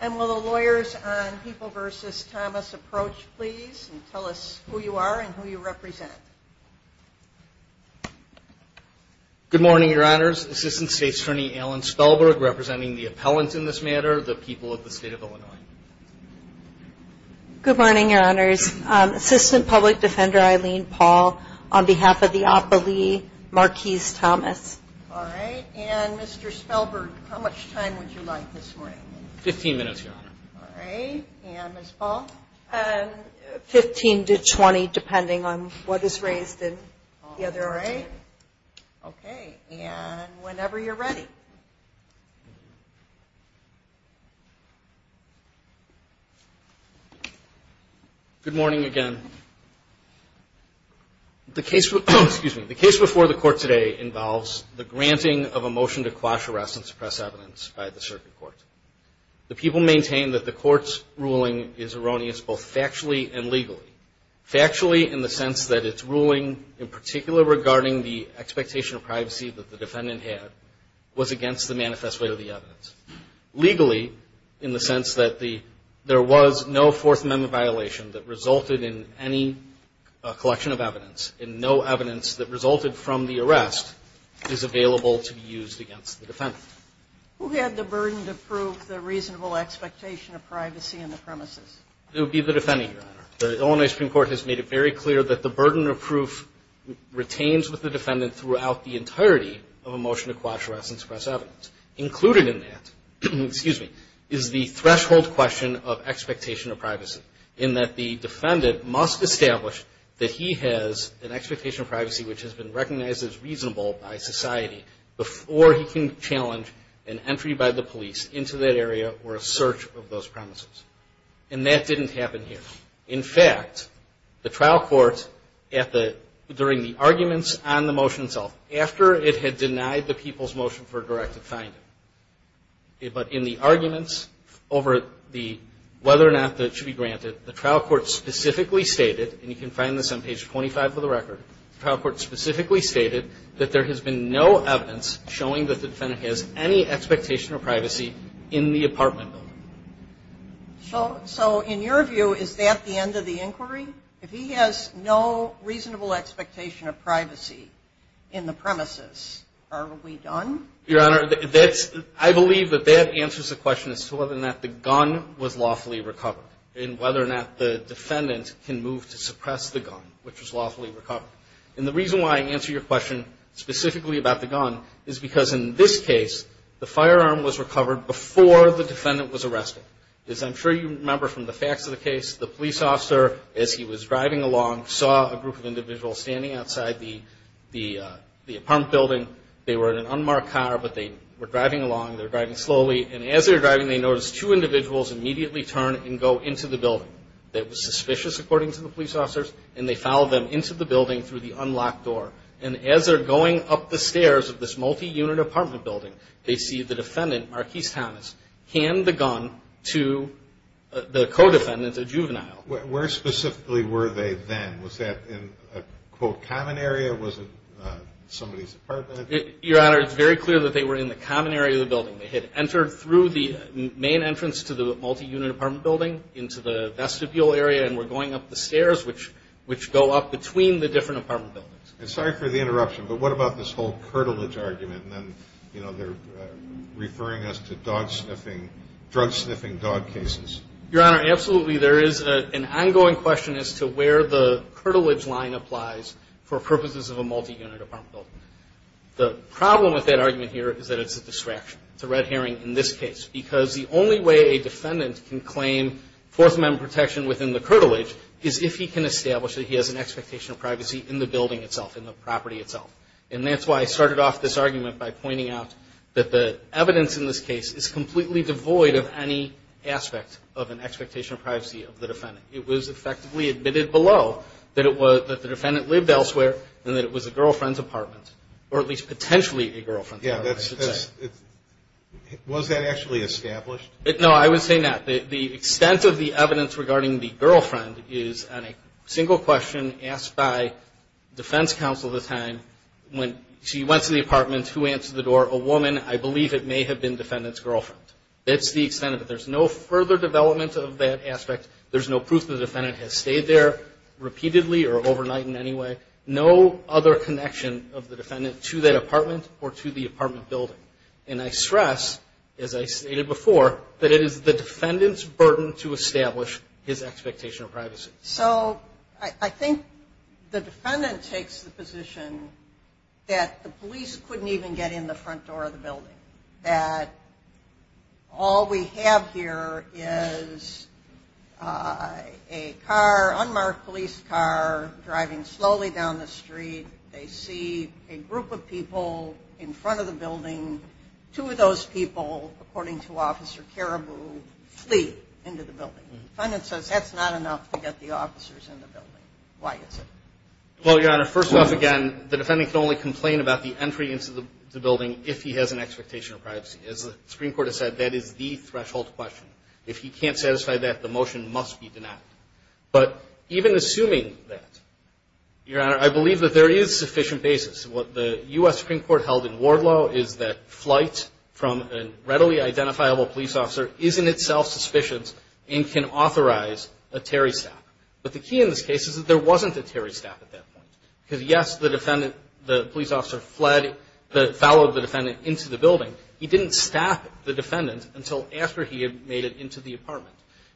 and will the lawyers on People v. Thomas approach please and tell us who you are and who you represent? Good morning, Your Honors. Assistant State's Attorney Alan Spellberg representing the appellants in this matter, the people of the State of Illinois. Good morning, Your Honors. Assistant Public Defender Eileen Paul on behalf of the appellee Marquis Thomas. All right. And Mr. Spellberg, how much time would you like this morning? Fifteen minutes, Your Honor. All right. And Ms. Paul? Fifteen to twenty, depending on what is raised in the other array. All right. Okay. And whenever you're ready. Good morning again. The case before the court today involves the granting of a motion to quash arrests and suppress evidence by the circuit court. The people maintain that the court's ruling is erroneous both factually and legally. And the expectation of privacy that the defendant had was against the manifest way of the evidence. Legally, in the sense that there was no Fourth Amendment violation that resulted in any collection of evidence, and no evidence that resulted from the arrest is available to be used against the defendant. Who had the burden to prove the reasonable expectation of privacy in the premises? It would be the defendant, Your Honor. The Illinois Supreme Court has made it very clear that the burden of proof retains with the defendant throughout the entirety of a motion to quash arrests and suppress evidence. Included in that is the threshold question of expectation of privacy, in that the defendant must establish that he has an expectation of privacy which has been recognized as reasonable by society before he can challenge an entry by the police into that area or a search of those premises. And that didn't happen here. In fact, the trial court at the, during the arguments on the motion itself, after it had denied the people's motion for a directed finding, but in the arguments over the, whether or not that should be granted, the trial court specifically stated, and you can find this on page 25 of the record, the trial court specifically stated that there has been no evidence showing that the defendant has any expectation of privacy in the apartment building. So in your view, is that the end of the inquiry? If he has no reasonable expectation of privacy in the premises, are we done? Your Honor, that's, I believe that that answers the question as to whether or not the gun was lawfully recovered and whether or not the defendant can move to suppress the gun, which was lawfully recovered. And the reason why I answer your question specifically about the gun is because in this case, the firearm was recovered before the defendant was arrested. As I'm sure you remember from the facts of the case, the police officer, as he was driving along, saw a group of individuals standing outside the apartment building. They were in an unmarked car, but they were driving along. They were driving slowly. And as they were driving, they noticed two individuals immediately turn and go into the building. That was suspicious, according to the police officers. And they followed them into the building through the unlocked door. And as they're going up the stairs of this multi-unit apartment building, they see the defendant, Marquis Thomas, hand the gun to the co-defendant, a juvenile. Where specifically were they then? Was that in a, quote, common area? Was it somebody's apartment? Your Honor, it's very clear that they were in the common area of the building. They had entered through the main entrance to the multi-unit apartment building into the vestibule area and were going up the stairs, which go up between the different apartment buildings. And sorry for the interruption, but what about this whole curtilage argument? And then, you know, they're referring us to dog sniffing, drug sniffing dog cases. Your Honor, absolutely there is an ongoing question as to where the curtilage line applies for purposes of a multi-unit apartment building. The problem with that argument here is that it's a distraction. It's a red herring in this case, because the only way a defendant can claim Fourth Amendment protection within the curtilage is if he can establish that he has an expectation of privacy in the building itself, in the property itself. And that's why I started off this argument by pointing out that the evidence in this case is completely devoid of any aspect of an expectation of privacy of the defendant. It was effectively admitted below that the defendant lived elsewhere and that it was a girlfriend's apartment, or at least potentially a girlfriend's apartment, I should say. Yeah. Was that actually established? No, I would say not. The extent of the evidence regarding the girlfriend is on a single question asked by defense counsel at the time. When she went to the apartment, who answered the door? A woman. I believe it may have been defendant's girlfriend. That's the extent of it. There's no further development of that aspect. There's no proof the defendant has stayed there repeatedly or overnight in any way. No other connection of the defendant to that apartment or to the apartment building. And I stress, as I stated before, that it is the defendant's burden to establish his expectation of privacy. So I think the defendant takes the position that the police couldn't even get in the front door of the building, that all we have here is a car, unmarked police car, driving slowly down the street. They see a group of people in front of the building. Two of those people, according to Officer Caribou, flee into the building. The defendant says that's not enough to get the officers in the building. Why is it? Well, Your Honor, first off, again, the defendant can only complain about the entry into the building if he has an expectation of privacy. As the Supreme Court has said, that is the threshold question. If he can't satisfy that, the motion must be denied. But even assuming that, Your Honor, I believe that there is sufficient basis. What the U.S. Supreme Court held in Wardlaw is that flight from a readily identifiable police officer is in itself suspicious and can authorize a Terry stab. But the key in this case is that there wasn't a Terry stab at that point. Because, yes, the defendant, the police officer fled, followed the defendant into the building. He didn't stab the defendant until after he had made it into the apartment.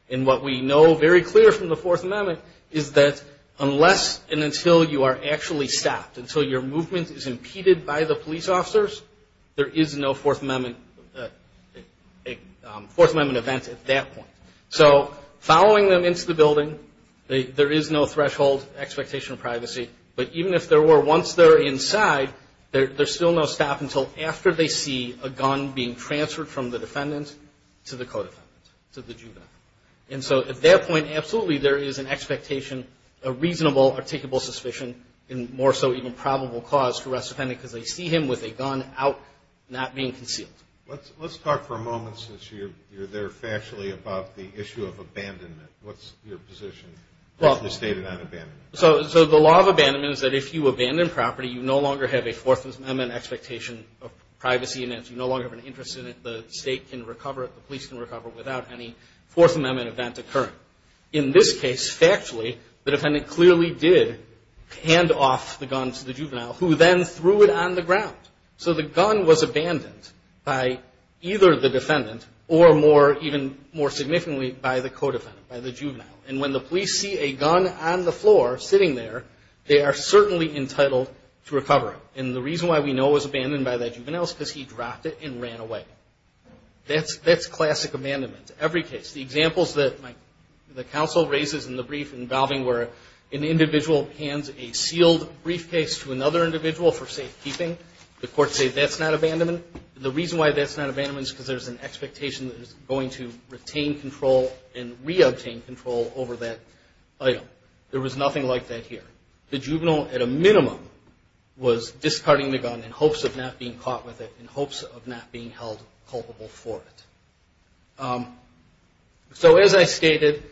And what we know very clear from the Fourth Amendment is that unless and until you are actually stopped, until your movement is impeded by the police officers, there is no Fourth Amendment event at that point. So following them into the building, there is no threshold expectation of privacy. But even if there were once they're inside, there's still no stop until after they see a gun being transferred from the And so at that point, absolutely, there is an expectation, a reasonable, articulable suspicion and more so even probable cause for arrest of the defendant because they see him with a gun out, not being concealed. Let's talk for a moment since you're there factually about the issue of abandonment. What's your position? So the law of abandonment is that if you abandon property, you no longer have a Fourth Amendment expectation of privacy and you no longer have an interest in it. The state can recover it. The police can recover it without any Fourth Amendment event occurring. In this case, factually, the defendant clearly did hand off the gun to the juvenile who then threw it on the ground. So the gun was abandoned by either the defendant or more even more significantly by the co-defendant, by the juvenile. And when the police see a gun on the floor sitting there, they are certainly entitled to recover it. And the reason why we know it was abandoned by that juvenile is because he dropped it and ran away. That's classic abandonment. Every case. The examples that the counsel raises in the brief involving where an individual hands a sealed briefcase to another individual for safekeeping, the courts say that's not abandonment. The reason why that's not abandonment is because there's an expectation that it's going to retain control and reobtain control over that item. There was nothing like that here. The juvenile, at a minimum, was discarding the gun in hopes of not being caught with it, in hopes of not being held culpable for it. So as I stated,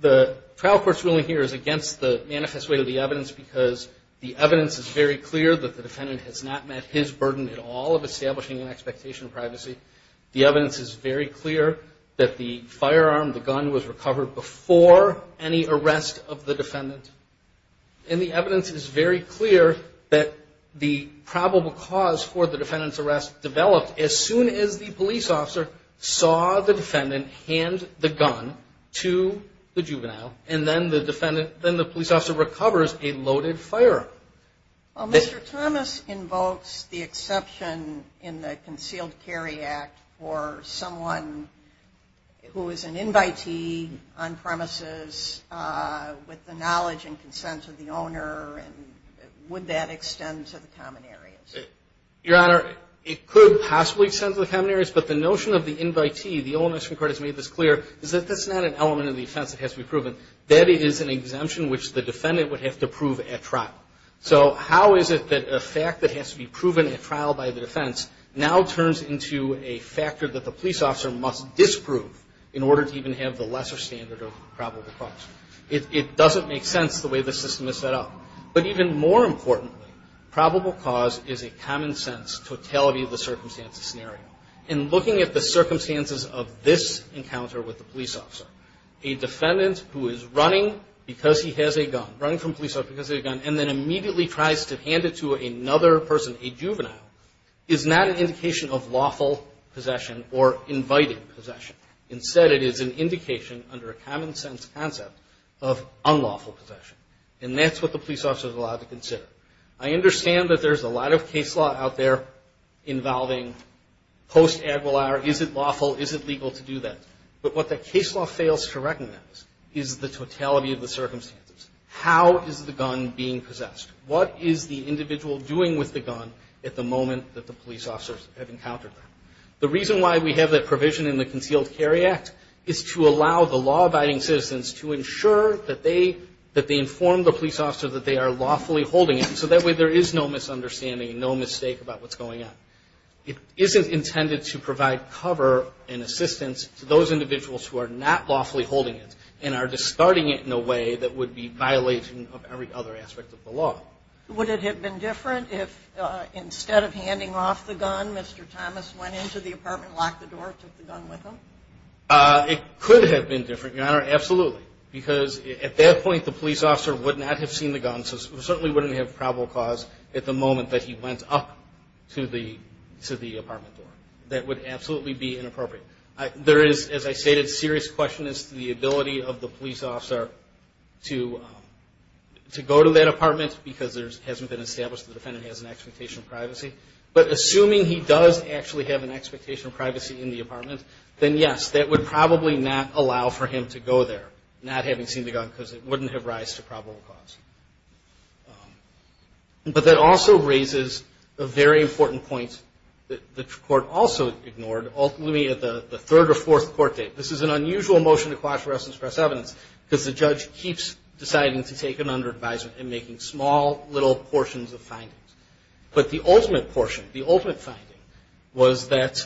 the trial court's ruling here is against the manifest way of the evidence because the evidence is very clear that the defendant has not met his burden at all of establishing an expectation of privacy. The evidence is very clear that the firearm, the gun, was recovered before any arrest of the defendant. And the evidence is very clear that the probable cause for the defendant's arrest developed as soon as the police officer saw the defendant hand the gun to the juvenile, and then the police officer recovers a loaded firearm. Well, Mr. Thomas invokes the exception in the Concealed Carry Act for someone who is an invitee on premises with the knowledge and consent of the owner. And would that extend to the common areas? Your Honor, it could possibly extend to the common areas, but the notion of the invitee, the old national court has made this clear, is that that's not an element of the offense that has to be proven. That is an exemption which the defendant would have to prove at trial. So how is it that a fact that has to be proven at trial by the defense now turns into a factor that the police officer must disprove in order to even have the lesser standard of probable cause? It doesn't make sense the way the system is set up. But even more importantly, probable cause is a common sense totality of the circumstances scenario. In looking at the circumstances of this encounter with the police officer, a defendant who is running because he has a gun, running from a police officer because he has a gun, and then immediately tries to hand it to another person, a juvenile, is not an indication of lawful possession or inviting possession. Instead, it is an indication under a common sense concept of unlawful possession. I understand that there's a lot of case law out there involving post-Aguilar. Is it lawful? Is it legal to do that? But what the case law fails to recognize is the totality of the circumstances. How is the gun being possessed? What is the individual doing with the gun at the moment that the police officers have encountered that? The reason why we have that provision in the Concealed Carry Act is to allow the law-abiding citizens to ensure that they inform the police officer that they are lawfully holding it, so that way there is no misunderstanding and no mistake about what's going on. It isn't intended to provide cover and assistance to those individuals who are not lawfully holding it and are just starting it in a way that would be violation of every other aspect of the law. Would it have been different if instead of handing off the gun, Mr. Thomas went into the apartment, locked the door, took the gun with him? It could have been different, Your Honor, absolutely. Because at that point, the police officer would not have seen the gun, so it certainly wouldn't have probable cause at the moment that he went up to the apartment door. That would absolutely be inappropriate. There is, as I stated, a serious question as to the ability of the police officer to go to that apartment because it hasn't been established the defendant has an expectation of privacy. But assuming he does actually have an expectation of privacy in the apartment, then yes, that would probably not allow for him to go there, not having seen the gun because it wouldn't have rise to probable cause. But that also raises a very important point that the court also ignored, ultimately at the third or fourth court date. This is an unusual motion to quash arrest and express evidence because the judge keeps deciding to take it under advisement and making small little portions of findings. But the ultimate portion, the ultimate finding, was that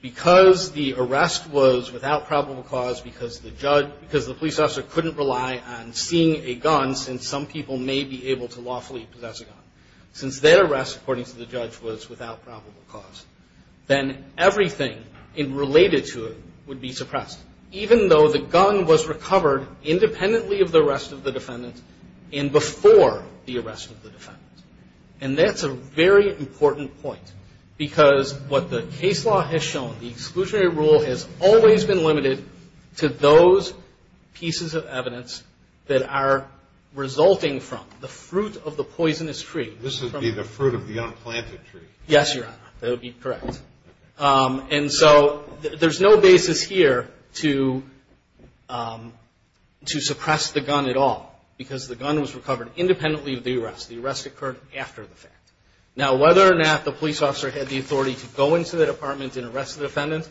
because the arrest was without probable cause, because the police officer couldn't rely on seeing a gun, since some people may be able to lawfully possess a gun, since their arrest, according to the judge, was without probable cause, then everything related to it would be suppressed, even though the gun was recovered independently of the arrest of the defendant and before the arrest of the defendant. And that's a very important point because what the case law has shown, the exclusionary rule has always been limited to those pieces of evidence that are resulting from the fruit of the poisonous tree. This would be the fruit of the unplanted tree. Yes, Your Honor. That would be correct. And so there's no basis here to suppress the gun at all because the gun was recovered independently of the arrest. The arrest occurred after the fact. Now, whether or not the police officer had the authority to go into the department and arrest the defendant,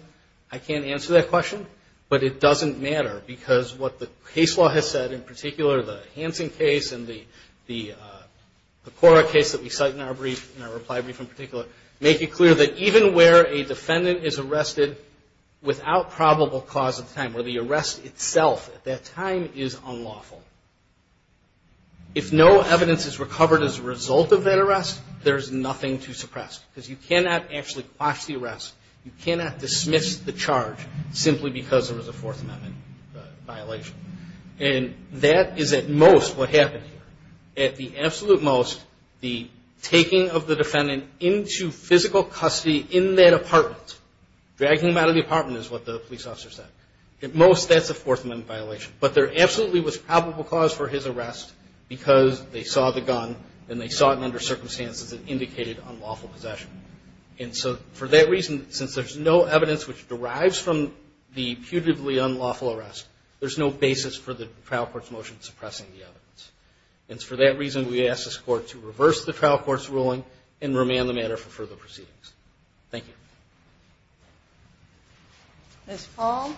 I can't answer that question, but it doesn't matter because what the case law has said, in particular, the Hansen case and the Cora case that we cite in our brief, in our reply brief in particular, make it clear that even where a defendant is arrested without probable cause at the time, where the arrest itself at that time is unlawful, if no evidence is recovered as a result of that arrest, there's nothing to suppress because you cannot actually quash the arrest. You cannot dismiss the charge simply because there was a Fourth Amendment violation. And that is, at most, what happened here. At the absolute most, the taking of the defendant into physical custody in that apartment, dragging him out of the apartment is what the police officer said. At most, that's a Fourth Amendment violation. But there absolutely was probable cause for his arrest because they saw the gun and they saw it under circumstances that indicated unlawful possession. And so for that reason, since there's no evidence which derives from the putatively unlawful arrest, there's no basis for the trial court's motion suppressing the evidence. And for that reason, we ask this Court to reverse the trial court's ruling and remand the matter for further proceedings. Thank you. Ms. Paul.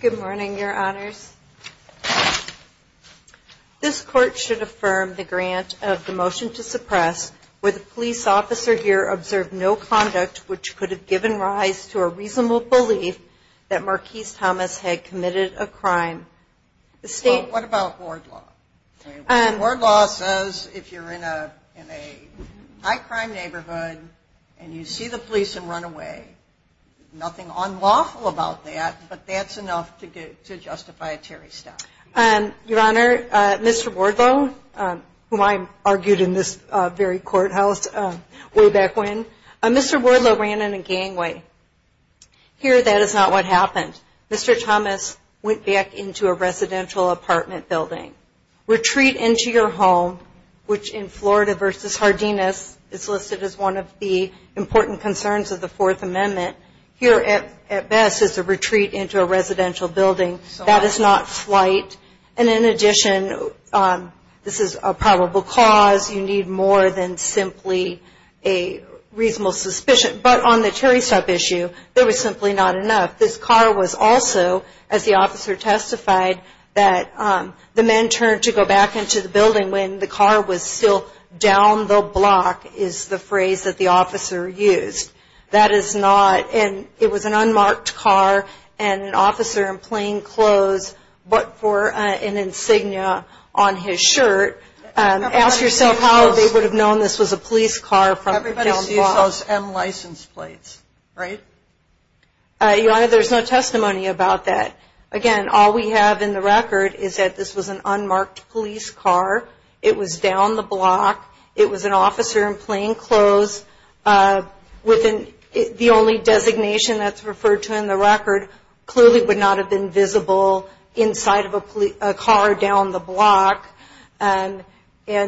Good morning, Your Honors. This Court should affirm the grant of the motion to suppress where the police officer here observed no conduct which could have given rise to a reasonable belief Well, what about Wardlaw? Wardlaw says if you're in a high-crime neighborhood and you see the police and run away, nothing unlawful about that, but that's enough to justify a Terry stop. Your Honor, Mr. Wardlaw, whom I argued in this very courthouse way back when, Mr. Wardlaw ran in a gangway. Here, that is not what happened. Mr. Thomas went back into a residential apartment building. Retreat into your home, which in Florida v. Hardinas, is listed as one of the important concerns of the Fourth Amendment. Here, at best, is a retreat into a residential building. That is not flight. And in addition, this is a probable cause. You need more than simply a reasonable suspicion. But on the Terry stop issue, there was simply not enough. This car was also, as the officer testified, that the men turned to go back into the building when the car was still down the block, is the phrase that the officer used. That is not, and it was an unmarked car and an officer in plain clothes, but for an insignia on his shirt. Ask yourself how they would have known this was a police car from down the block. Everybody sees those M license plates, right? Your Honor, there's no testimony about that. Again, all we have in the record is that this was an unmarked police car. It was down the block. It was an officer in plain clothes with the only designation that's referred to in the record clearly would not have been visible inside of a car down the block. And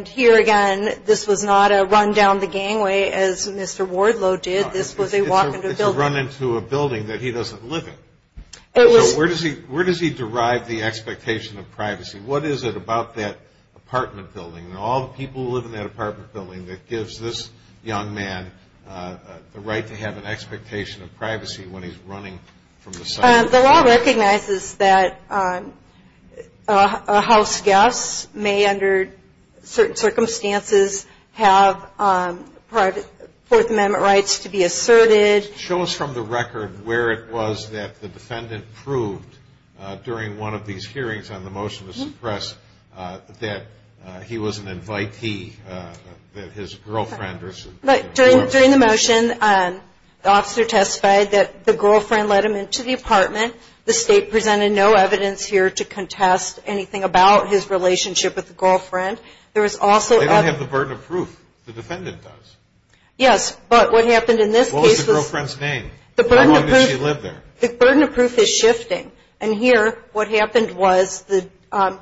here again, this was not a run down the gangway as Mr. Wardlow did. This was a walk into a building. It's a run into a building that he doesn't live in. So where does he derive the expectation of privacy? What is it about that apartment building and all the people who live in that apartment building that gives this young man the right to have an expectation of privacy when he's running from the site? The law recognizes that a house guest may, under certain circumstances, have private Fourth Amendment rights to be asserted. Show us from the record where it was that the defendant proved during one of these hearings on the motion to suppress that he was an invitee, that his girlfriend was. During the motion, the officer testified that the girlfriend let him into the apartment. The State presented no evidence here to contest anything about his relationship with the girlfriend. They don't have the burden of proof. The defendant does. Yes, but what happened in this case was... What was the girlfriend's name? How long did she live there? The burden of proof is shifting. And here what happened was the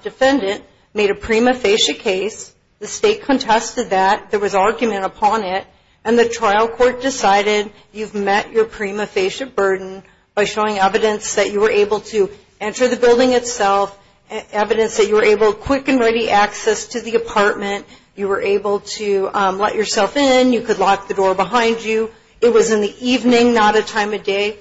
defendant made a prima facie case. The State contested that. There was argument upon it, and the trial court decided you've met your prima facie burden by showing evidence that you were able to enter the building itself, evidence that you were able, quick and ready, access to the apartment. You were able to let yourself in. You could lock the door behind you. It was in the evening, not a time of day.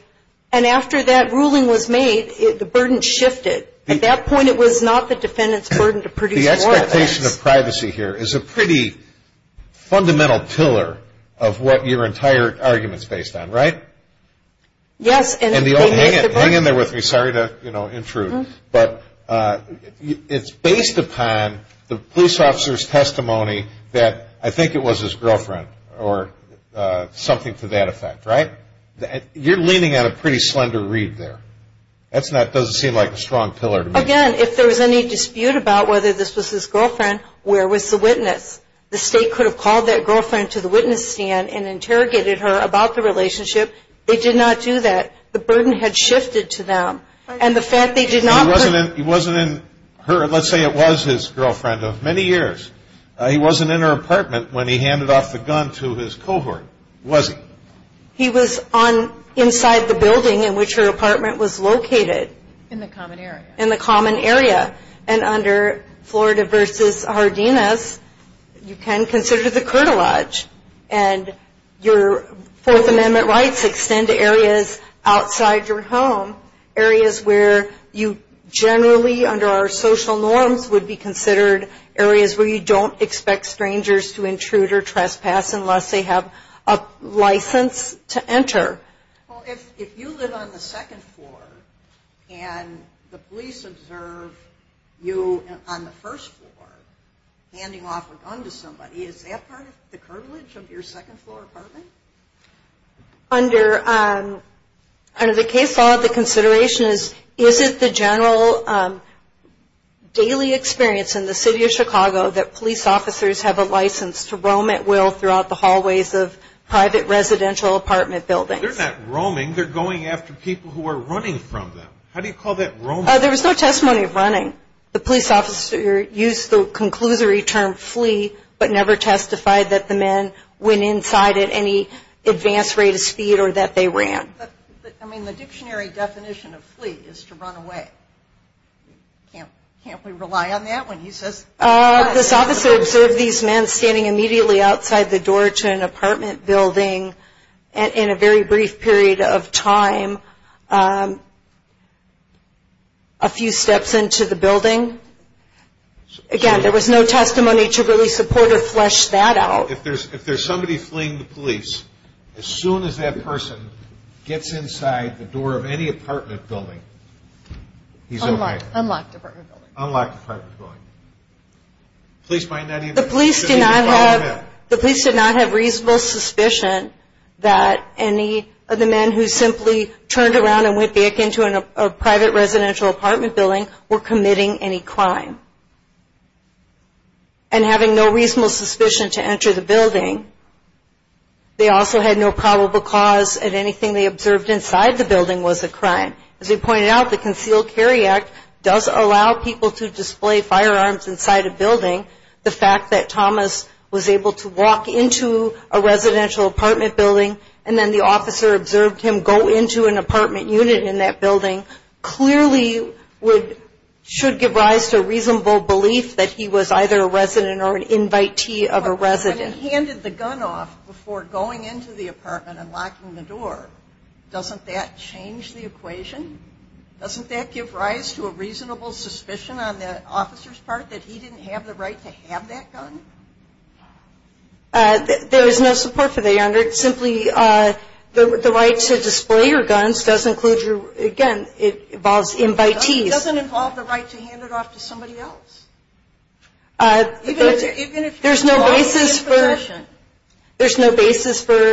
And after that ruling was made, the burden shifted. At that point, it was not the defendant's burden to produce more evidence. The expectation of privacy here is a pretty fundamental pillar of what your entire argument is based on, right? Yes. Hang in there with me. Sorry to intrude, but it's based upon the police officer's testimony that I think it was his girlfriend or something to that effect, right? You're leaning on a pretty slender reed there. That doesn't seem like a strong pillar to me. Again, if there was any dispute about whether this was his girlfriend, where was the witness? The State could have called that girlfriend to the witness stand and interrogated her about the relationship. They did not do that. The burden had shifted to them. And the fact they did not ---- He wasn't in her ---- let's say it was his girlfriend of many years. He wasn't in her apartment when he handed off the gun to his cohort, was he? He was inside the building in which her apartment was located. In the common area. In the common area. And under Florida v. Hardinas, you can consider the curtilage. And your Fourth Amendment rights extend to areas outside your home, areas where you generally, under our social norms, would be considered areas where you don't expect strangers to intrude or trespass unless they have a license to enter. Well, if you live on the second floor and the police observe you on the first floor handing off a gun to somebody, is that part of the curtilage of your second-floor apartment? Under the case law, the consideration is, is it the general daily experience in the City of Chicago that police officers have a license to roam at will throughout the hallways of private residential apartment buildings? They're not roaming. They're going after people who are running from them. How do you call that roaming? There was no testimony of running. The police officer used the conclusory term, flee, but never testified that the men went inside at any advanced rate of speed or that they ran. I mean, the dictionary definition of flee is to run away. Can't we rely on that when he says that? This officer observed these men standing immediately outside the door to an apartment building in a very brief period of time, a few steps into the building. Again, there was no testimony to really support or flesh that out. If there's somebody fleeing the police, as soon as that person gets inside the door of any apartment building, he's over. Unlocked apartment building. Unlocked apartment building. Police might not even follow him in. The police did not have reasonable suspicion that any of the men who simply turned around and went back into a private residential apartment building were committing any crime. And having no reasonable suspicion to enter the building, they also had no probable cause that anything they observed inside the building was a crime. As we pointed out, the Concealed Carry Act does allow people to display firearms inside a building. The fact that Thomas was able to walk into a residential apartment building and then the officer observed him go into an apartment unit in that building clearly should give rise to a reasonable belief that he was either a resident or an invitee of a resident. But if he handed the gun off before going into the apartment and locking the door, doesn't that change the equation? Doesn't that give rise to a reasonable suspicion on the officer's part that he didn't have the right to have that gun? There is no support for that, Your Honor. It's simply the right to display your guns does include your, again, it involves invitees. But it doesn't involve the right to hand it off to somebody else. There's no basis for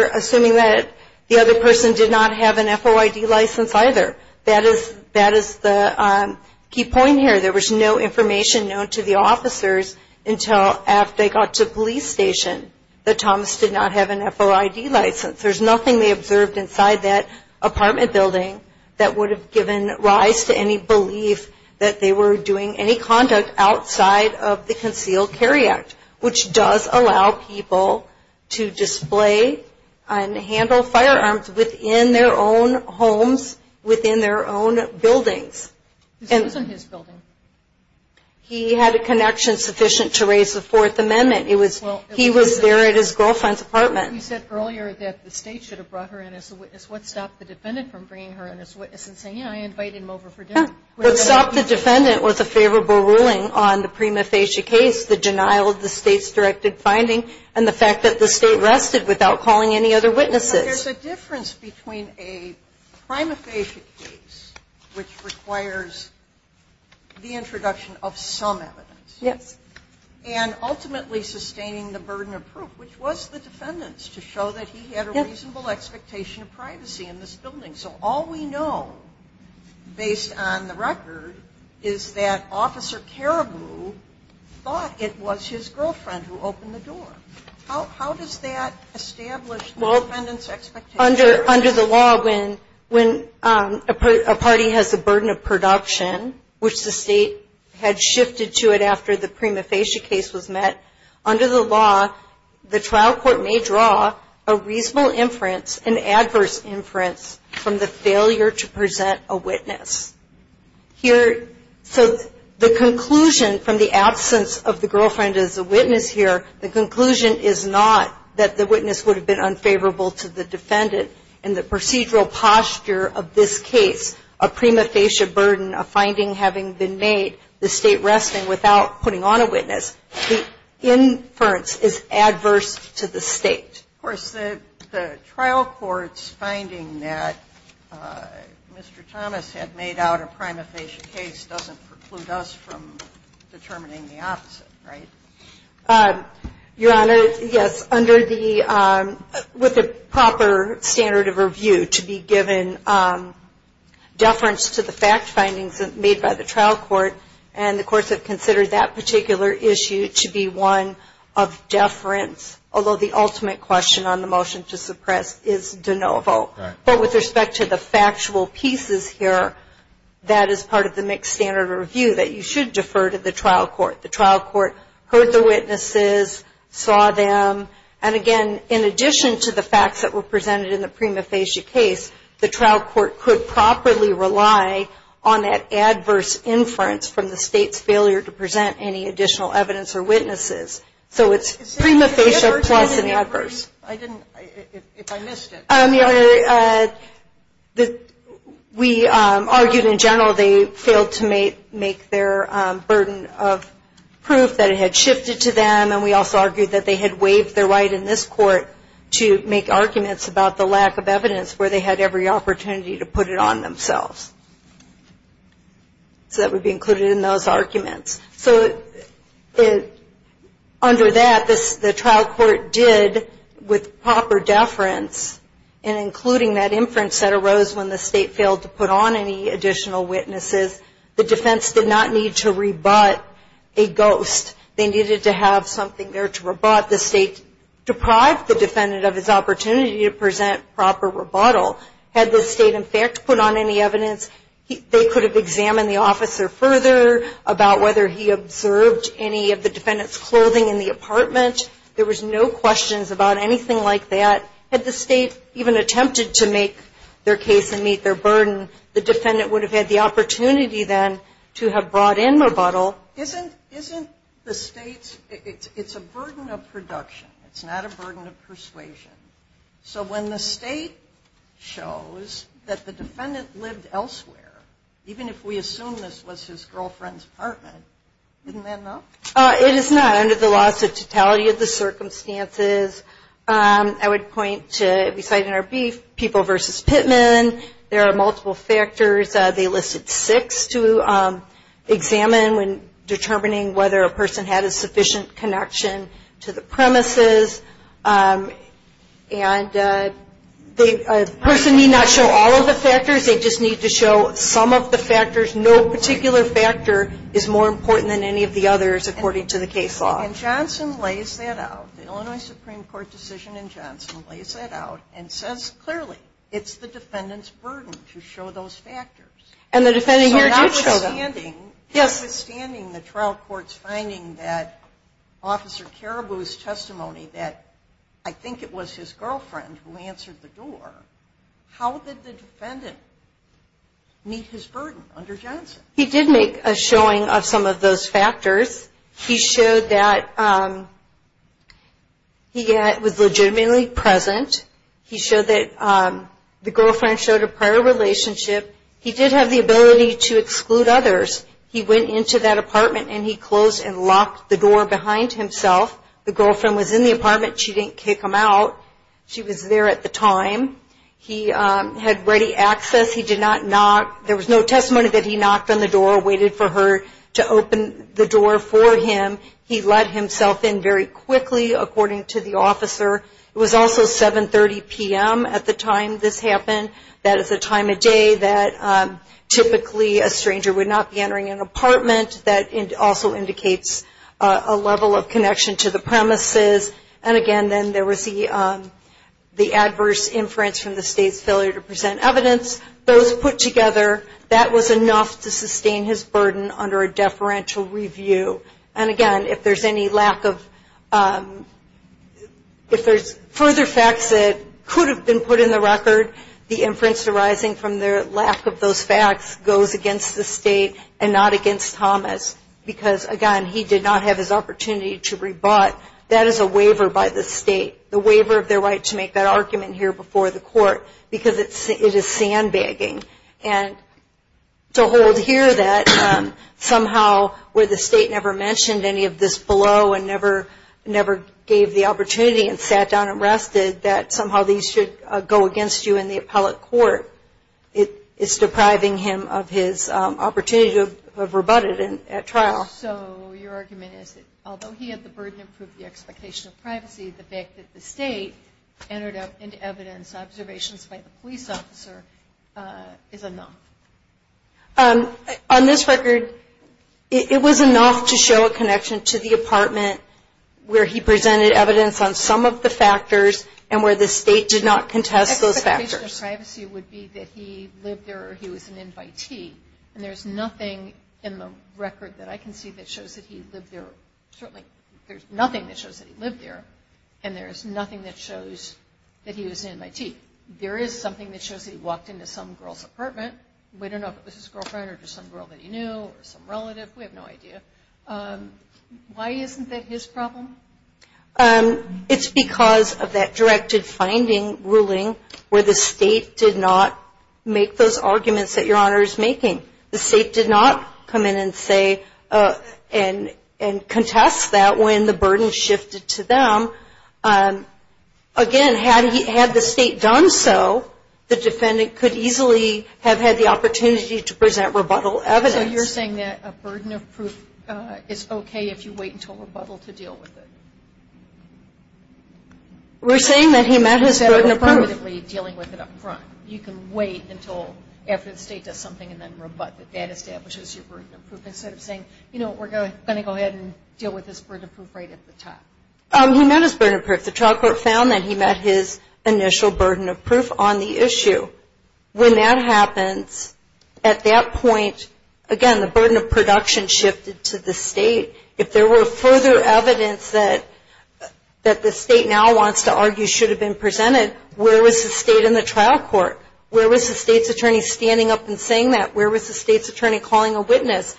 assuming that the other person did not have an FOID license either. That is the key point here. There was no information known to the officers until after they got to a police station that Thomas did not have an FOID license. There's nothing they observed inside that apartment building that would have given rise to any belief that they were doing any conduct outside of the Concealed Carry Act, which does allow people to display and handle firearms within their own homes, within their own buildings. This wasn't his building. He had a connection sufficient to raise the Fourth Amendment. He was there at his girlfriend's apartment. You said earlier that the State should have brought her in as a witness. What stopped the defendant from bringing her in as a witness and saying, yeah, I invited him over for dinner? What stopped the defendant with a favorable ruling on the prima facie case, the denial of the State's directed finding, and the fact that the State rested without calling any other witnesses? There's a difference between a prima facie case, which requires the introduction of some evidence. Yes. And ultimately sustaining the burden of proof, which was the defendant's to show that he had a reasonable expectation of privacy in this building. So all we know, based on the record, is that Officer Caribou thought it was his girlfriend who opened the door. How does that establish the defendant's expectations? Well, under the law, when a party has a burden of production, which the State had shifted to it after the prima facie case was met, under the law, the trial court may draw a reasonable inference, an adverse inference, from the failure to present a witness. So the conclusion from the absence of the girlfriend as a witness here, the conclusion is not that the witness would have been unfavorable to the defendant in the procedural posture of this case, a prima facie burden, a finding having been made, the State resting without putting on a witness. The inference is adverse to the State. Of course, the trial court's finding that Mr. Thomas had made out a prima facie case doesn't preclude us from determining the opposite, right? Your Honor, yes. Under the – with the proper standard of review to be given deference to the fact of deference, although the ultimate question on the motion to suppress is de novo. Right. But with respect to the factual pieces here, that is part of the mixed standard of review, that you should defer to the trial court. The trial court heard the witnesses, saw them, and again, in addition to the facts that were presented in the prima facie case, the trial court could properly rely on that adverse inference from the State's failure to present any additional evidence or witnesses. So it's prima facie plus an adverse. I didn't – if I missed it. We argued in general they failed to make their burden of proof that it had shifted to them, and we also argued that they had waived their right in this court to make arguments about the lack of evidence where they had every opportunity to put it on themselves. So that would be included in those arguments. So under that, the trial court did, with proper deference, and including that inference that arose when the State failed to put on any additional witnesses, the defense did not need to rebut a ghost. They needed to have something there to rebut. The State deprived the defendant of his opportunity to present proper rebuttal. Had the State, in fact, put on any evidence, they could have examined the officer further about whether he observed any of the defendant's clothing in the apartment. There was no questions about anything like that. Had the State even attempted to make their case and meet their burden, the defendant would have had the opportunity then to have brought in rebuttal. Isn't the State's – it's a burden of production. It's not a burden of persuasion. So when the State shows that the defendant lived elsewhere, even if we assume this was his girlfriend's apartment, isn't that enough? It is not, under the laws of totality of the circumstances. I would point to, beside NRB, people versus Pittman. There are multiple factors. They listed six to examine when determining whether a person had a sufficient connection to the premises. And a person may not show all of the factors. They just need to show some of the factors. No particular factor is more important than any of the others, according to the case law. And Johnson lays that out. The Illinois Supreme Court decision in Johnson lays that out and says clearly, it's the defendant's burden to show those factors. And the defendant here did show them. Withstanding the trial court's finding that Officer Caribou's testimony that, I think it was his girlfriend who answered the door, how did the defendant meet his burden under Johnson? He did make a showing of some of those factors. He showed that he was legitimately present. He showed that the girlfriend showed a prior relationship. He did have the ability to exclude others. He went into that apartment and he closed and locked the door behind himself. The girlfriend was in the apartment. She didn't kick him out. She was there at the time. He had ready access. He did not knock. There was no testimony that he knocked on the door, waited for her to open the door for him. He let himself in very quickly, according to the officer. It was also 7.30 p.m. at the time this happened. That is a time of day that typically a stranger would not be entering an apartment. That also indicates a level of connection to the premises. And, again, then there was the adverse inference from the State's failure to present evidence. Those put together, that was enough to sustain his burden under a deferential review. And, again, if there's any lack of – if there's further facts that could have been put in the record, the inference arising from the lack of those facts goes against the State and not against Thomas because, again, he did not have his opportunity to rebut. That is a waiver by the State, the waiver of their right to make that argument here before the court because it is sandbagging. And to hold here that somehow where the State never mentioned any of this below and never gave the opportunity and sat down and rested, that somehow these should go against you in the appellate court. It's depriving him of his opportunity to have rebutted at trial. So your argument is that although he had the burden to prove the expectation of privacy, the fact that the State entered into evidence observations by the police officer is enough. On this record, it was enough to show a connection to the apartment where he presented evidence on some of the factors and where the State did not contest those factors. The expectation of privacy would be that he lived there or he was an invitee. And there's nothing in the record that I can see that shows that he lived there. Certainly, there's nothing that shows that he lived there. And there's nothing that shows that he was an invitee. There is something that shows that he walked into some girl's apartment. We don't know if it was his girlfriend or just some girl that he knew or some relative. We have no idea. Why isn't that his problem? It's because of that directed finding ruling where the State did not make those arguments that Your Honor is making. The State did not come in and say and contest that when the burden shifted to them. Again, had the State done so, the defendant could easily have had the opportunity to present rebuttal evidence. So you're saying that a burden of proof is okay if you wait until rebuttal to deal with it? We're saying that he met his burden of proof. You can wait until after the State does something and then rebut that that establishes your burden of proof instead of saying, you know what, we're going to go ahead and deal with this burden of proof right at the top. He met his burden of proof. The trial court found that he met his initial burden of proof on the issue. When that happens, at that point, again, the burden of production shifted to the State. If there were further evidence that the State now wants to argue should have been presented, where was the State in the trial court? Where was the State's attorney standing up and saying that? Where was the State's attorney calling a witness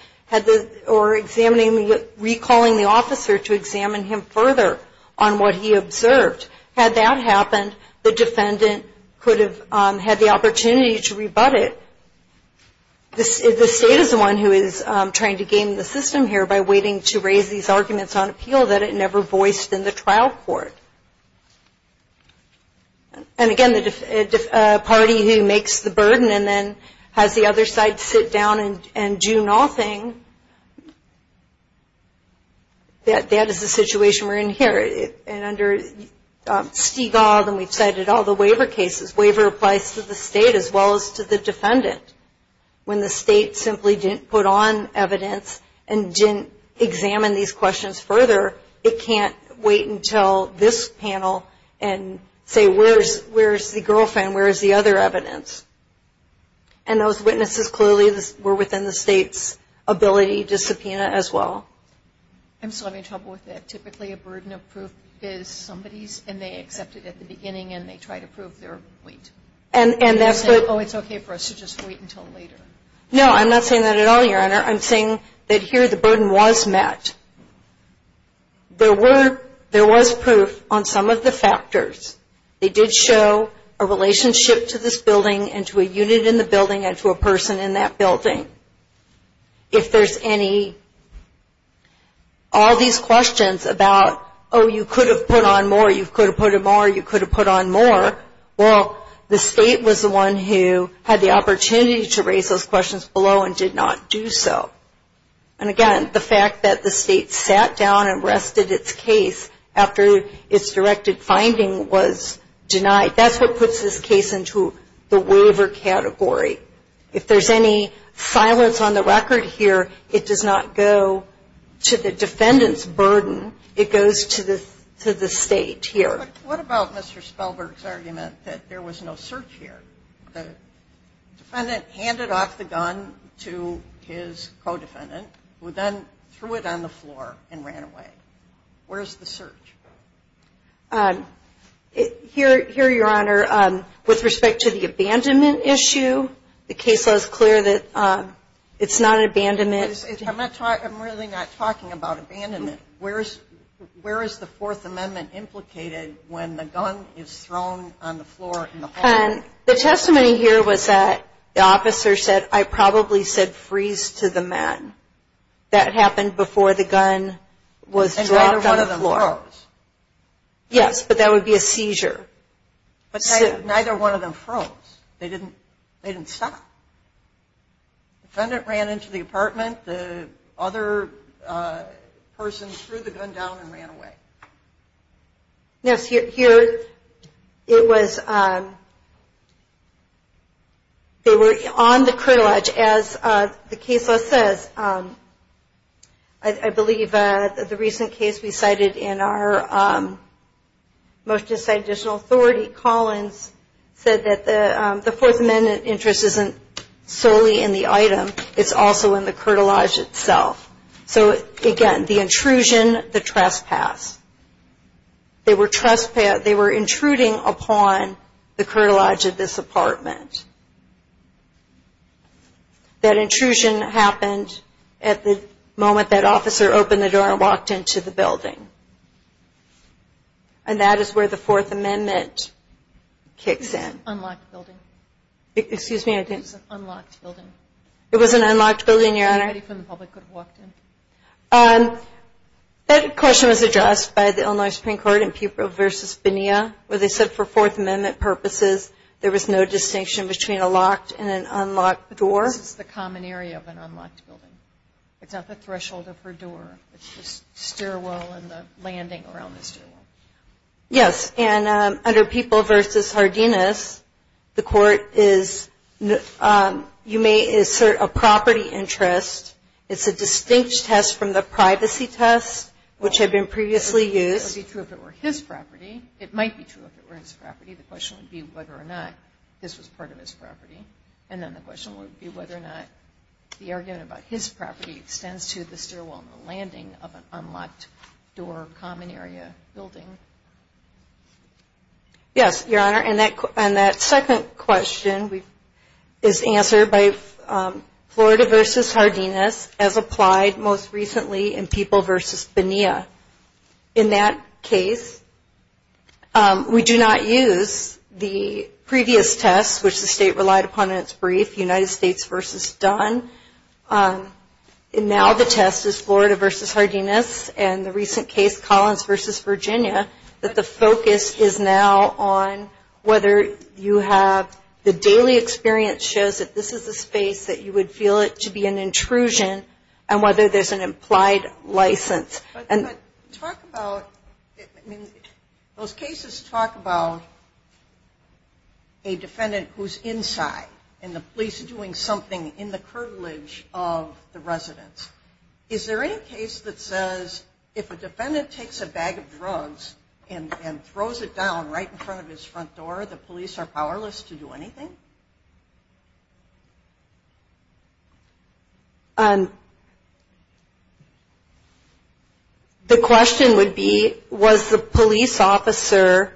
or recalling the officer to examine him further on what he observed? Had that happened, the defendant could have had the opportunity to rebut it. The State is the one who is trying to game the system here by waiting to raise these arguments on appeal that it never voiced in the trial court. And again, the party who makes the burden and then has the other side sit down and do nothing, that is the situation we're in here. And under Stigall, and we've cited all the waiver cases, waiver applies to the State as well as to the defendant. When the State simply didn't put on evidence and didn't examine these questions further, it can't wait until this panel and say, where's the girlfriend, where's the other evidence? And those witnesses clearly were within the State's ability to subpoena as well. I'm still having trouble with that. Typically a burden of proof is somebody's, and they accept it at the beginning, and they try to prove their point. And that's the Oh, it's okay for us to just wait until later. No, I'm not saying that at all, Your Honor. I'm saying that here the burden was met. There was proof on some of the factors. They did show a relationship to this building and to a unit in the building and to a person in that building. If there's any, all these questions about, oh, you could have put on more, you could have put on more, you could have put on more. Well, the State was the one who had the opportunity to raise those questions below and did not do so. And again, the fact that the State sat down and rested its case after its directed finding was denied, that's what puts this case into the waiver category. If there's any silence on the record here, it does not go to the defendant's burden. It goes to the State here. What about Mr. Spellberg's argument that there was no search here? The defendant handed off the gun to his co-defendant, who then threw it on the floor and ran away. Where's the search? Here, Your Honor, with respect to the abandonment issue, the case law is clear that it's not an abandonment. I'm really not talking about abandonment. Where is the Fourth Amendment implicated when the gun is thrown on the floor in the hallway? The testimony here was that the officer said, I probably said freeze to the man. That happened before the gun was dropped on the floor. And neither one of them froze. Yes, but that would be a seizure. But neither one of them froze. They didn't stop. The defendant ran into the apartment. The other person threw the gun down and ran away. Yes, here it was, they were on the crillage. As the case law says, I believe the recent case we cited in our motion to cite additional authority, Collins said that the Fourth Amendment interest isn't solely in the item. It's also in the curtilage itself. So, again, the intrusion, the trespass. They were intruding upon the curtilage of this apartment. That intrusion happened at the moment that officer opened the door and walked into the building. And that is where the Fourth Amendment kicks in. Unlocked building. Excuse me, I didn't. Unlocked building. It was an unlocked building, Your Honor. Anybody from the public could have walked in. That question was addressed by the Illinois Supreme Court in Pupil v. Bonilla, where they said for Fourth Amendment purposes, there was no distinction between a locked and an unlocked door. This is the common area of an unlocked building. It's not the threshold of her door. It's the stairwell and the landing around the stairwell. Yes, and under Pupil v. Hardinas, the court is, you may assert a property interest. It's a distinct test from the privacy test, which had been previously used. It would be true if it were his property. It might be true if it were his property. And then the question would be whether or not the argument about his property extends to the stairwell and the landing of an unlocked door, common area building. Yes, Your Honor, and that second question is answered by Florida v. Hardinas, as applied most recently in Pupil v. Bonilla. In that case, we do not use the previous test, which the state relied upon in its brief, United States v. Dunn. Now the test is Florida v. Hardinas and the recent case, Collins v. Virginia, that the focus is now on whether you have the daily experience shows that this is a space that you would feel it to be an intrusion and whether there's an implied license. But talk about, I mean, those cases talk about a defendant who's inside and the police are doing something in the curvilege of the residents. Is there any case that says if a defendant takes a bag of drugs and throws it down right in front of his front door, the police are powerless to do anything? The question would be, was the police officer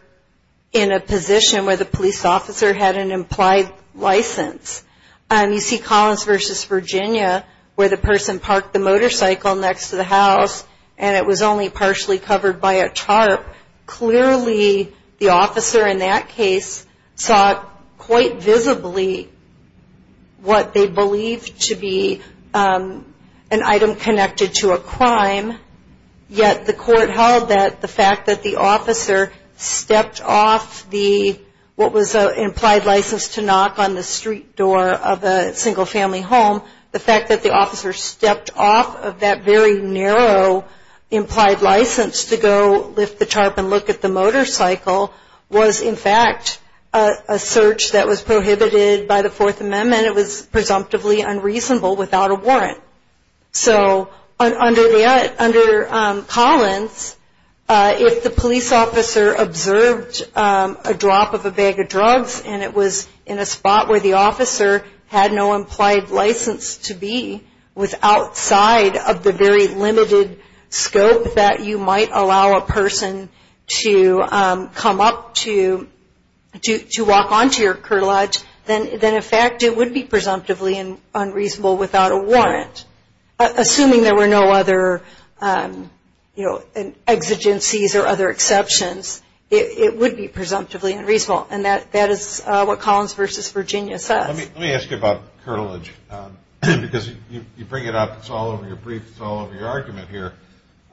in a position where the police officer had an implied license? You see Collins v. Virginia where the person parked the motorcycle next to the house and it was only partially covered by a tarp. Clearly the officer in that case saw quite visibly what they believed to be an item connected to a crime, yet the court held that the fact that the officer stepped off the, what was an implied license to knock on the street door of a single family home, the fact that the officer stepped off of that very narrow implied license to go lift the tarp and look at the motorcycle was in fact a search that was prohibited by the Fourth Amendment. It was presumptively unreasonable without a warrant. So under Collins, if the police officer observed a drop of a bag of drugs and it was in a spot where the officer had no implied license to be, was outside of the very limited scope that you might allow a person to come up to, to walk onto your curtilage, then in fact it would be presumptively unreasonable without a warrant. Assuming there were no other, you know, exigencies or other exceptions, it would be presumptively unreasonable, and that is what Collins v. Virginia says. Let me ask you about curtilage, because you bring it up, it's all over your briefs, it's all over your argument here,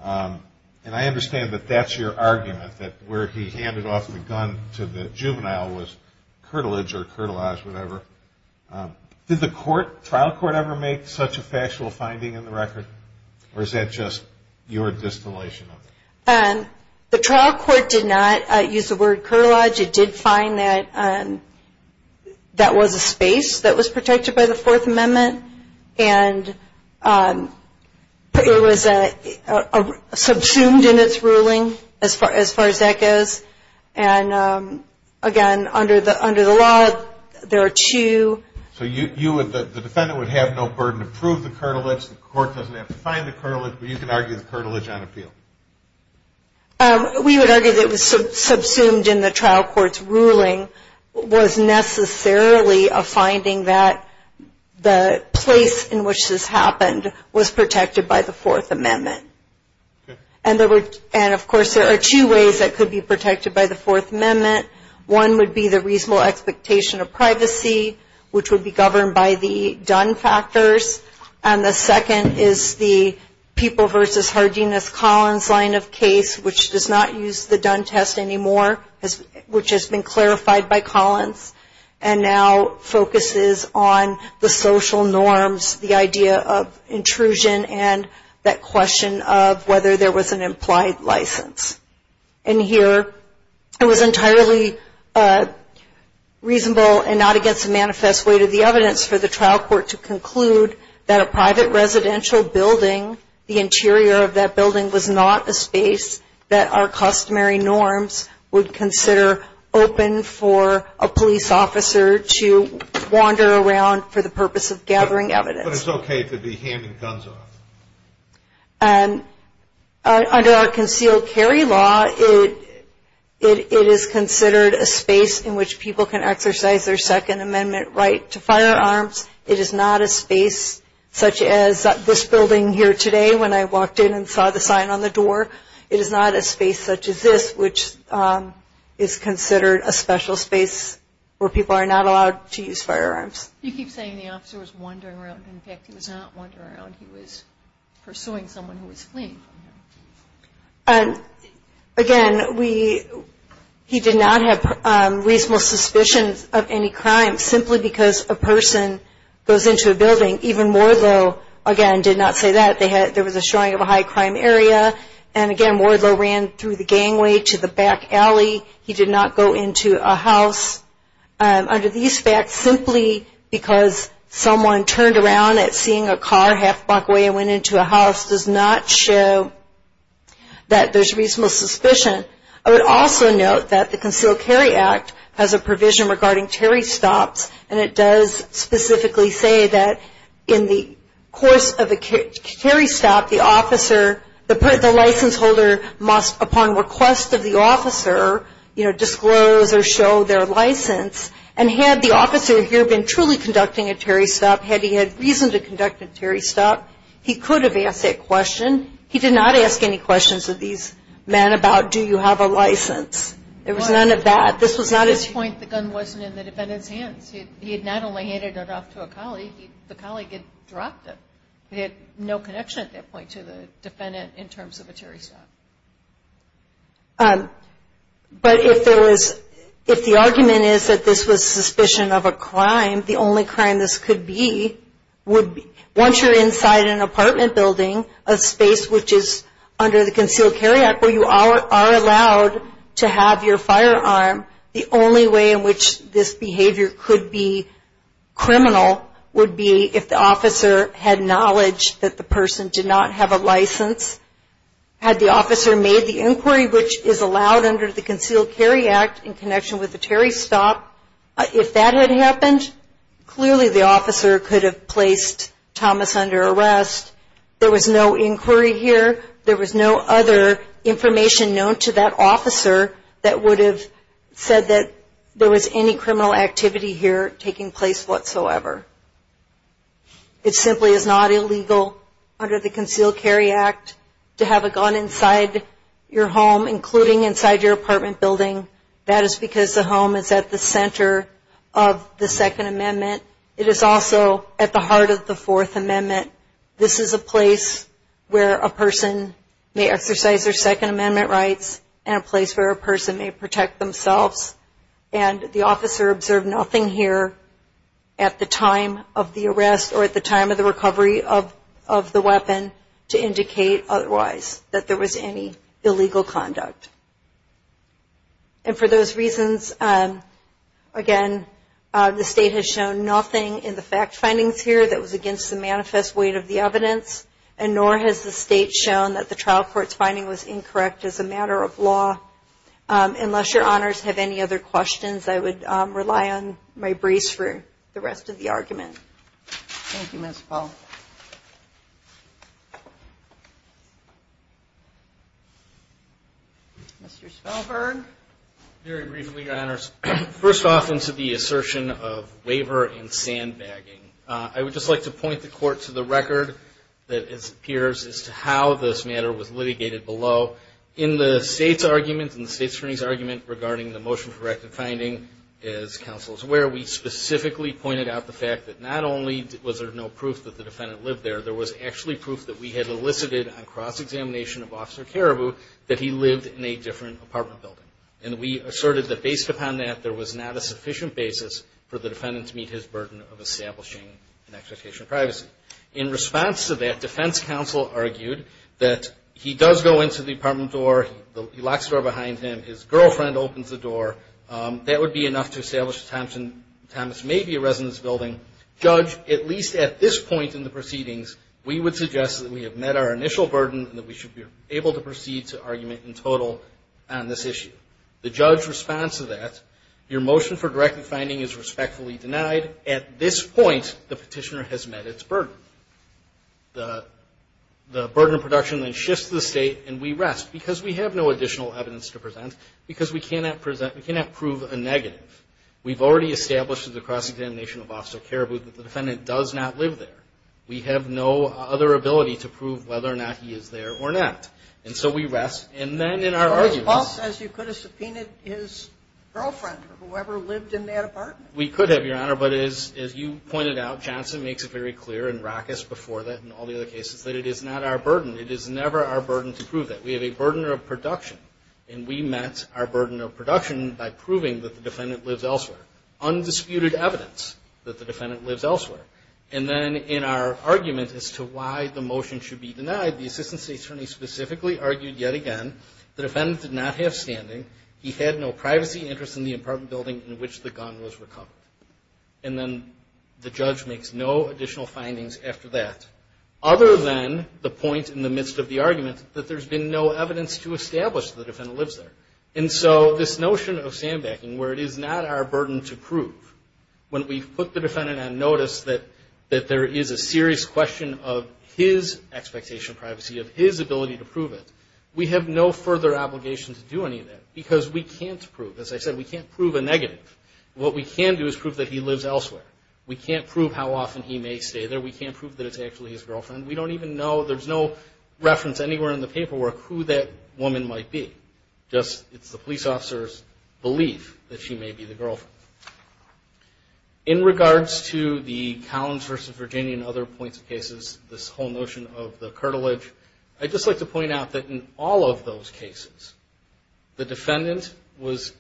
and I understand that that's your argument, that where he handed off the gun to the juvenile was curtilage or curtilized, whatever. Did the trial court ever make such a factual finding in the record, or is that just your distillation of it? The trial court did not use the word curtilage. It did find that that was a space that was protected by the Fourth Amendment, and it was subsumed in its ruling as far as that goes. And again, under the law, there are two. So the defendant would have no burden to prove the curtilage, the court doesn't have to find the curtilage, but you can argue the curtilage on appeal. We would argue that it was subsumed in the trial court's ruling, was necessarily a finding that the place in which this happened was protected by the Fourth Amendment. And, of course, there are two ways it could be protected by the Fourth Amendment. One would be the reasonable expectation of privacy, which would be governed by the done factors, and the second is the People v. Hardiness-Collins line of case, which does not use the done test anymore, which has been clarified by Collins, and now focuses on the social norms, the idea of intrusion, and that question of whether there was an implied license. And here it was entirely reasonable and not against the manifest weight of the evidence for the trial court to conclude that a private residential building, the interior of that building was not a space that our customary norms would consider open for a police officer to wander around for the purpose of gathering evidence. But it's okay to be handing guns off. Under our concealed carry law, it is considered a space in which people can exercise their Second Amendment right to firearms. It is not a space such as this building here today when I walked in and saw the sign on the door. It is not a space such as this, which is considered a special space where people are not allowed to use firearms. You keep saying the officer was wandering around. In fact, he was not wandering around. He was pursuing someone who was fleeing from him. Again, he did not have reasonable suspicions of any crime simply because a person goes into a building. Even Wardlow, again, did not say that. There was a showing of a high crime area. And again, Wardlow ran through the gangway to the back alley. He did not go into a house. Under these facts, simply because someone turned around at seeing a car half a block away and went into a house does not show that there's reasonable suspicion. I would also note that the Concealed Carry Act has a provision regarding terry stops, and it does specifically say that in the course of a terry stop, the license holder must, upon request of the officer, disclose or show their license. And had the officer here been truly conducting a terry stop, had he had reason to conduct a terry stop, he could have asked that question. He did not ask any questions of these men about, do you have a license? There was none of that. This was not a... At this point, the gun wasn't in the defendant's hands. He had not only handed it off to a colleague, the colleague had dropped it. He had no connection at that point to the defendant in terms of a terry stop. But if there was, if the argument is that this was suspicion of a crime, the only crime this could be would be, once you're inside an apartment building, a space which is under the Concealed Carry Act where you are allowed to have your firearm, the only way in which this behavior could be criminal would be if the officer had knowledge that the person did not have a license. Had the officer made the inquiry, which is allowed under the Concealed Carry Act in connection with the terry stop, if that had happened, clearly the officer could have placed Thomas under arrest. There was no inquiry here. There was no other information known to that officer that would have said that there was any criminal activity here taking place whatsoever. It simply is not illegal under the Concealed Carry Act to have a gun inside your home, including inside your apartment building. That is because the home is at the center of the Second Amendment. It is also at the heart of the Fourth Amendment. This is a place where a person may exercise their Second Amendment rights and a place where a person may protect themselves. And the officer observed nothing here at the time of the arrest or at the time of the recovery of the weapon to indicate otherwise that there was any illegal conduct. And for those reasons, again, the State has shown nothing in the fact findings here that was against the manifest weight of the evidence, and nor has the State shown that the trial court's finding was incorrect as a matter of law. Unless your honors have any other questions, I would rely on my brace for the rest of the argument. Thank you, Ms. Powell. Mr. Svalbard? Very briefly, your honors. First off, into the assertion of waiver and sandbagging. I would just like to point the court to the record that appears as to how this matter was litigated below. In the State's argument, in the State's hearing's argument, regarding the motion for corrective finding, as counsel is aware, we specifically pointed out the fact that not only was there no proof that the defendant lived there, there was actually proof that we had elicited on cross-examination of Officer Caribou that he lived in a different apartment building. And we asserted that based upon that, there was not a sufficient basis for the defendant to meet his burden of establishing an expectation of privacy. In response to that, defense counsel argued that he does go into the apartment door. He locks the door behind him. His girlfriend opens the door. That would be enough to establish that Thomas may be a resident of this building. Judge, at least at this point in the proceedings, we would suggest that we have met our initial burden and that we should be able to proceed to argument in total on this issue. The judge's response to that, your motion for corrective finding is respectfully denied. At this point, the petitioner has met its burden. The burden of production then shifts to the State, and we rest. Because we have no additional evidence to present, because we cannot present, we cannot prove a negative. We've already established through the cross-examination of Officer Caribou that the defendant does not live there. We have no other ability to prove whether or not he is there or not. And so we rest. And then in our argument – But your boss says you could have subpoenaed his girlfriend or whoever lived in that apartment. We could have, your Honor, but as you pointed out, Johnson makes it very clear and Rackus before that and all the other cases, that it is not our burden. It is never our burden to prove that. We have a burden of production, and we met our burden of production by proving that the defendant lives elsewhere. Undisputed evidence that the defendant lives elsewhere. And then in our argument as to why the motion should be denied, the Assistant State Attorney specifically argued yet again the defendant did not have standing, he had no privacy interest in the apartment building in which the gun was recovered. And then the judge makes no additional findings after that, other than the point in the midst of the argument that there's been no evidence to establish the defendant lives there. And so this notion of sandbagging, where it is not our burden to prove, when we put the defendant on notice that there is a serious question of his expectation of privacy, of his ability to prove it, we have no further obligation to do any of that because we can't prove. As I said, we can't prove a negative. What we can do is prove that he lives elsewhere. We can't prove how often he may stay there. We can't prove that it's actually his girlfriend. We don't even know, there's no reference anywhere in the paperwork who that woman might be. Just it's the police officer's belief that she may be the girlfriend. In regards to the Collins v. Virginia and other points of cases, this whole notion of the cartilage, I'd just like to point out that in all of those cases, the defendant was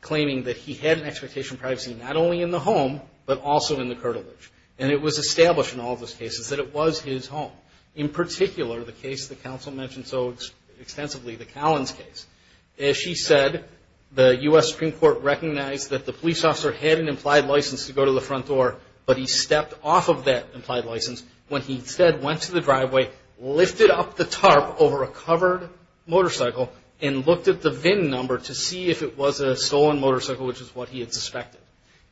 claiming that he had an expectation of privacy not only in the home, but also in the cartilage. And it was established in all of those cases that it was his home. In particular, the case the counsel mentioned so extensively, the Collins case. As she said, the U.S. Supreme Court recognized that the police officer had an implied license to go to the front door, but he stepped off of that implied license when he instead went to the driveway, lifted up the tarp over a covered motorcycle and looked at the VIN number to see if it was a stolen motorcycle, which is what he had suspected.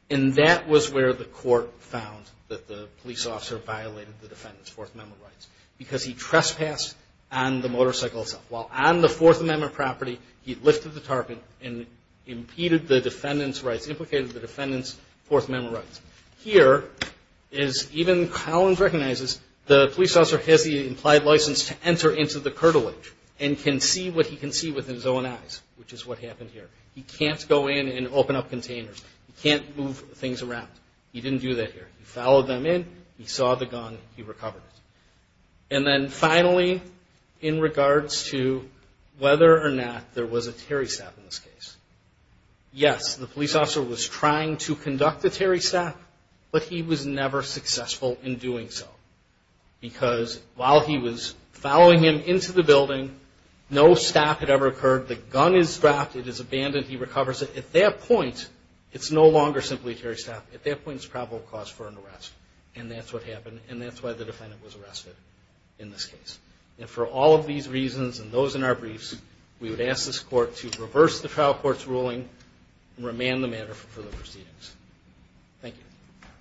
And that was where the court found that the police officer violated the defendant's Fourth Amendment rights because he trespassed on the motorcycle itself. While on the Fourth Amendment property, he lifted the tarp and impeded the defendant's rights, implicated the defendant's Fourth Amendment rights. Here, as even Collins recognizes, the police officer has the implied license to enter into the cartilage and can see what he can see with his own eyes, which is what happened here. He can't go in and open up containers. He can't move things around. He didn't do that here. He followed them in. He saw the gun. He recovered it. And then finally, in regards to whether or not there was a Terry stab in this case, yes, the police officer was trying to conduct a Terry stab, but he was never successful in doing so. Because while he was following him into the building, no stab had ever occurred. The gun is dropped. It is abandoned. He recovers it. At that point, it's no longer simply a Terry stab. At that point, it's probable cause for an arrest. And that's what happened. And that's why the defendant was arrested in this case. And for all of these reasons and those in our briefs, we would ask this court to reverse the trial court's ruling and remand the matter for the proceedings. Thank you.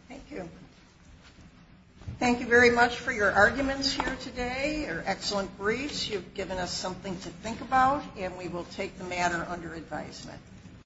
Thank you. Thank you very much for your arguments here today, your excellent briefs. You've given us something to think about, and we will take the matter under advisement.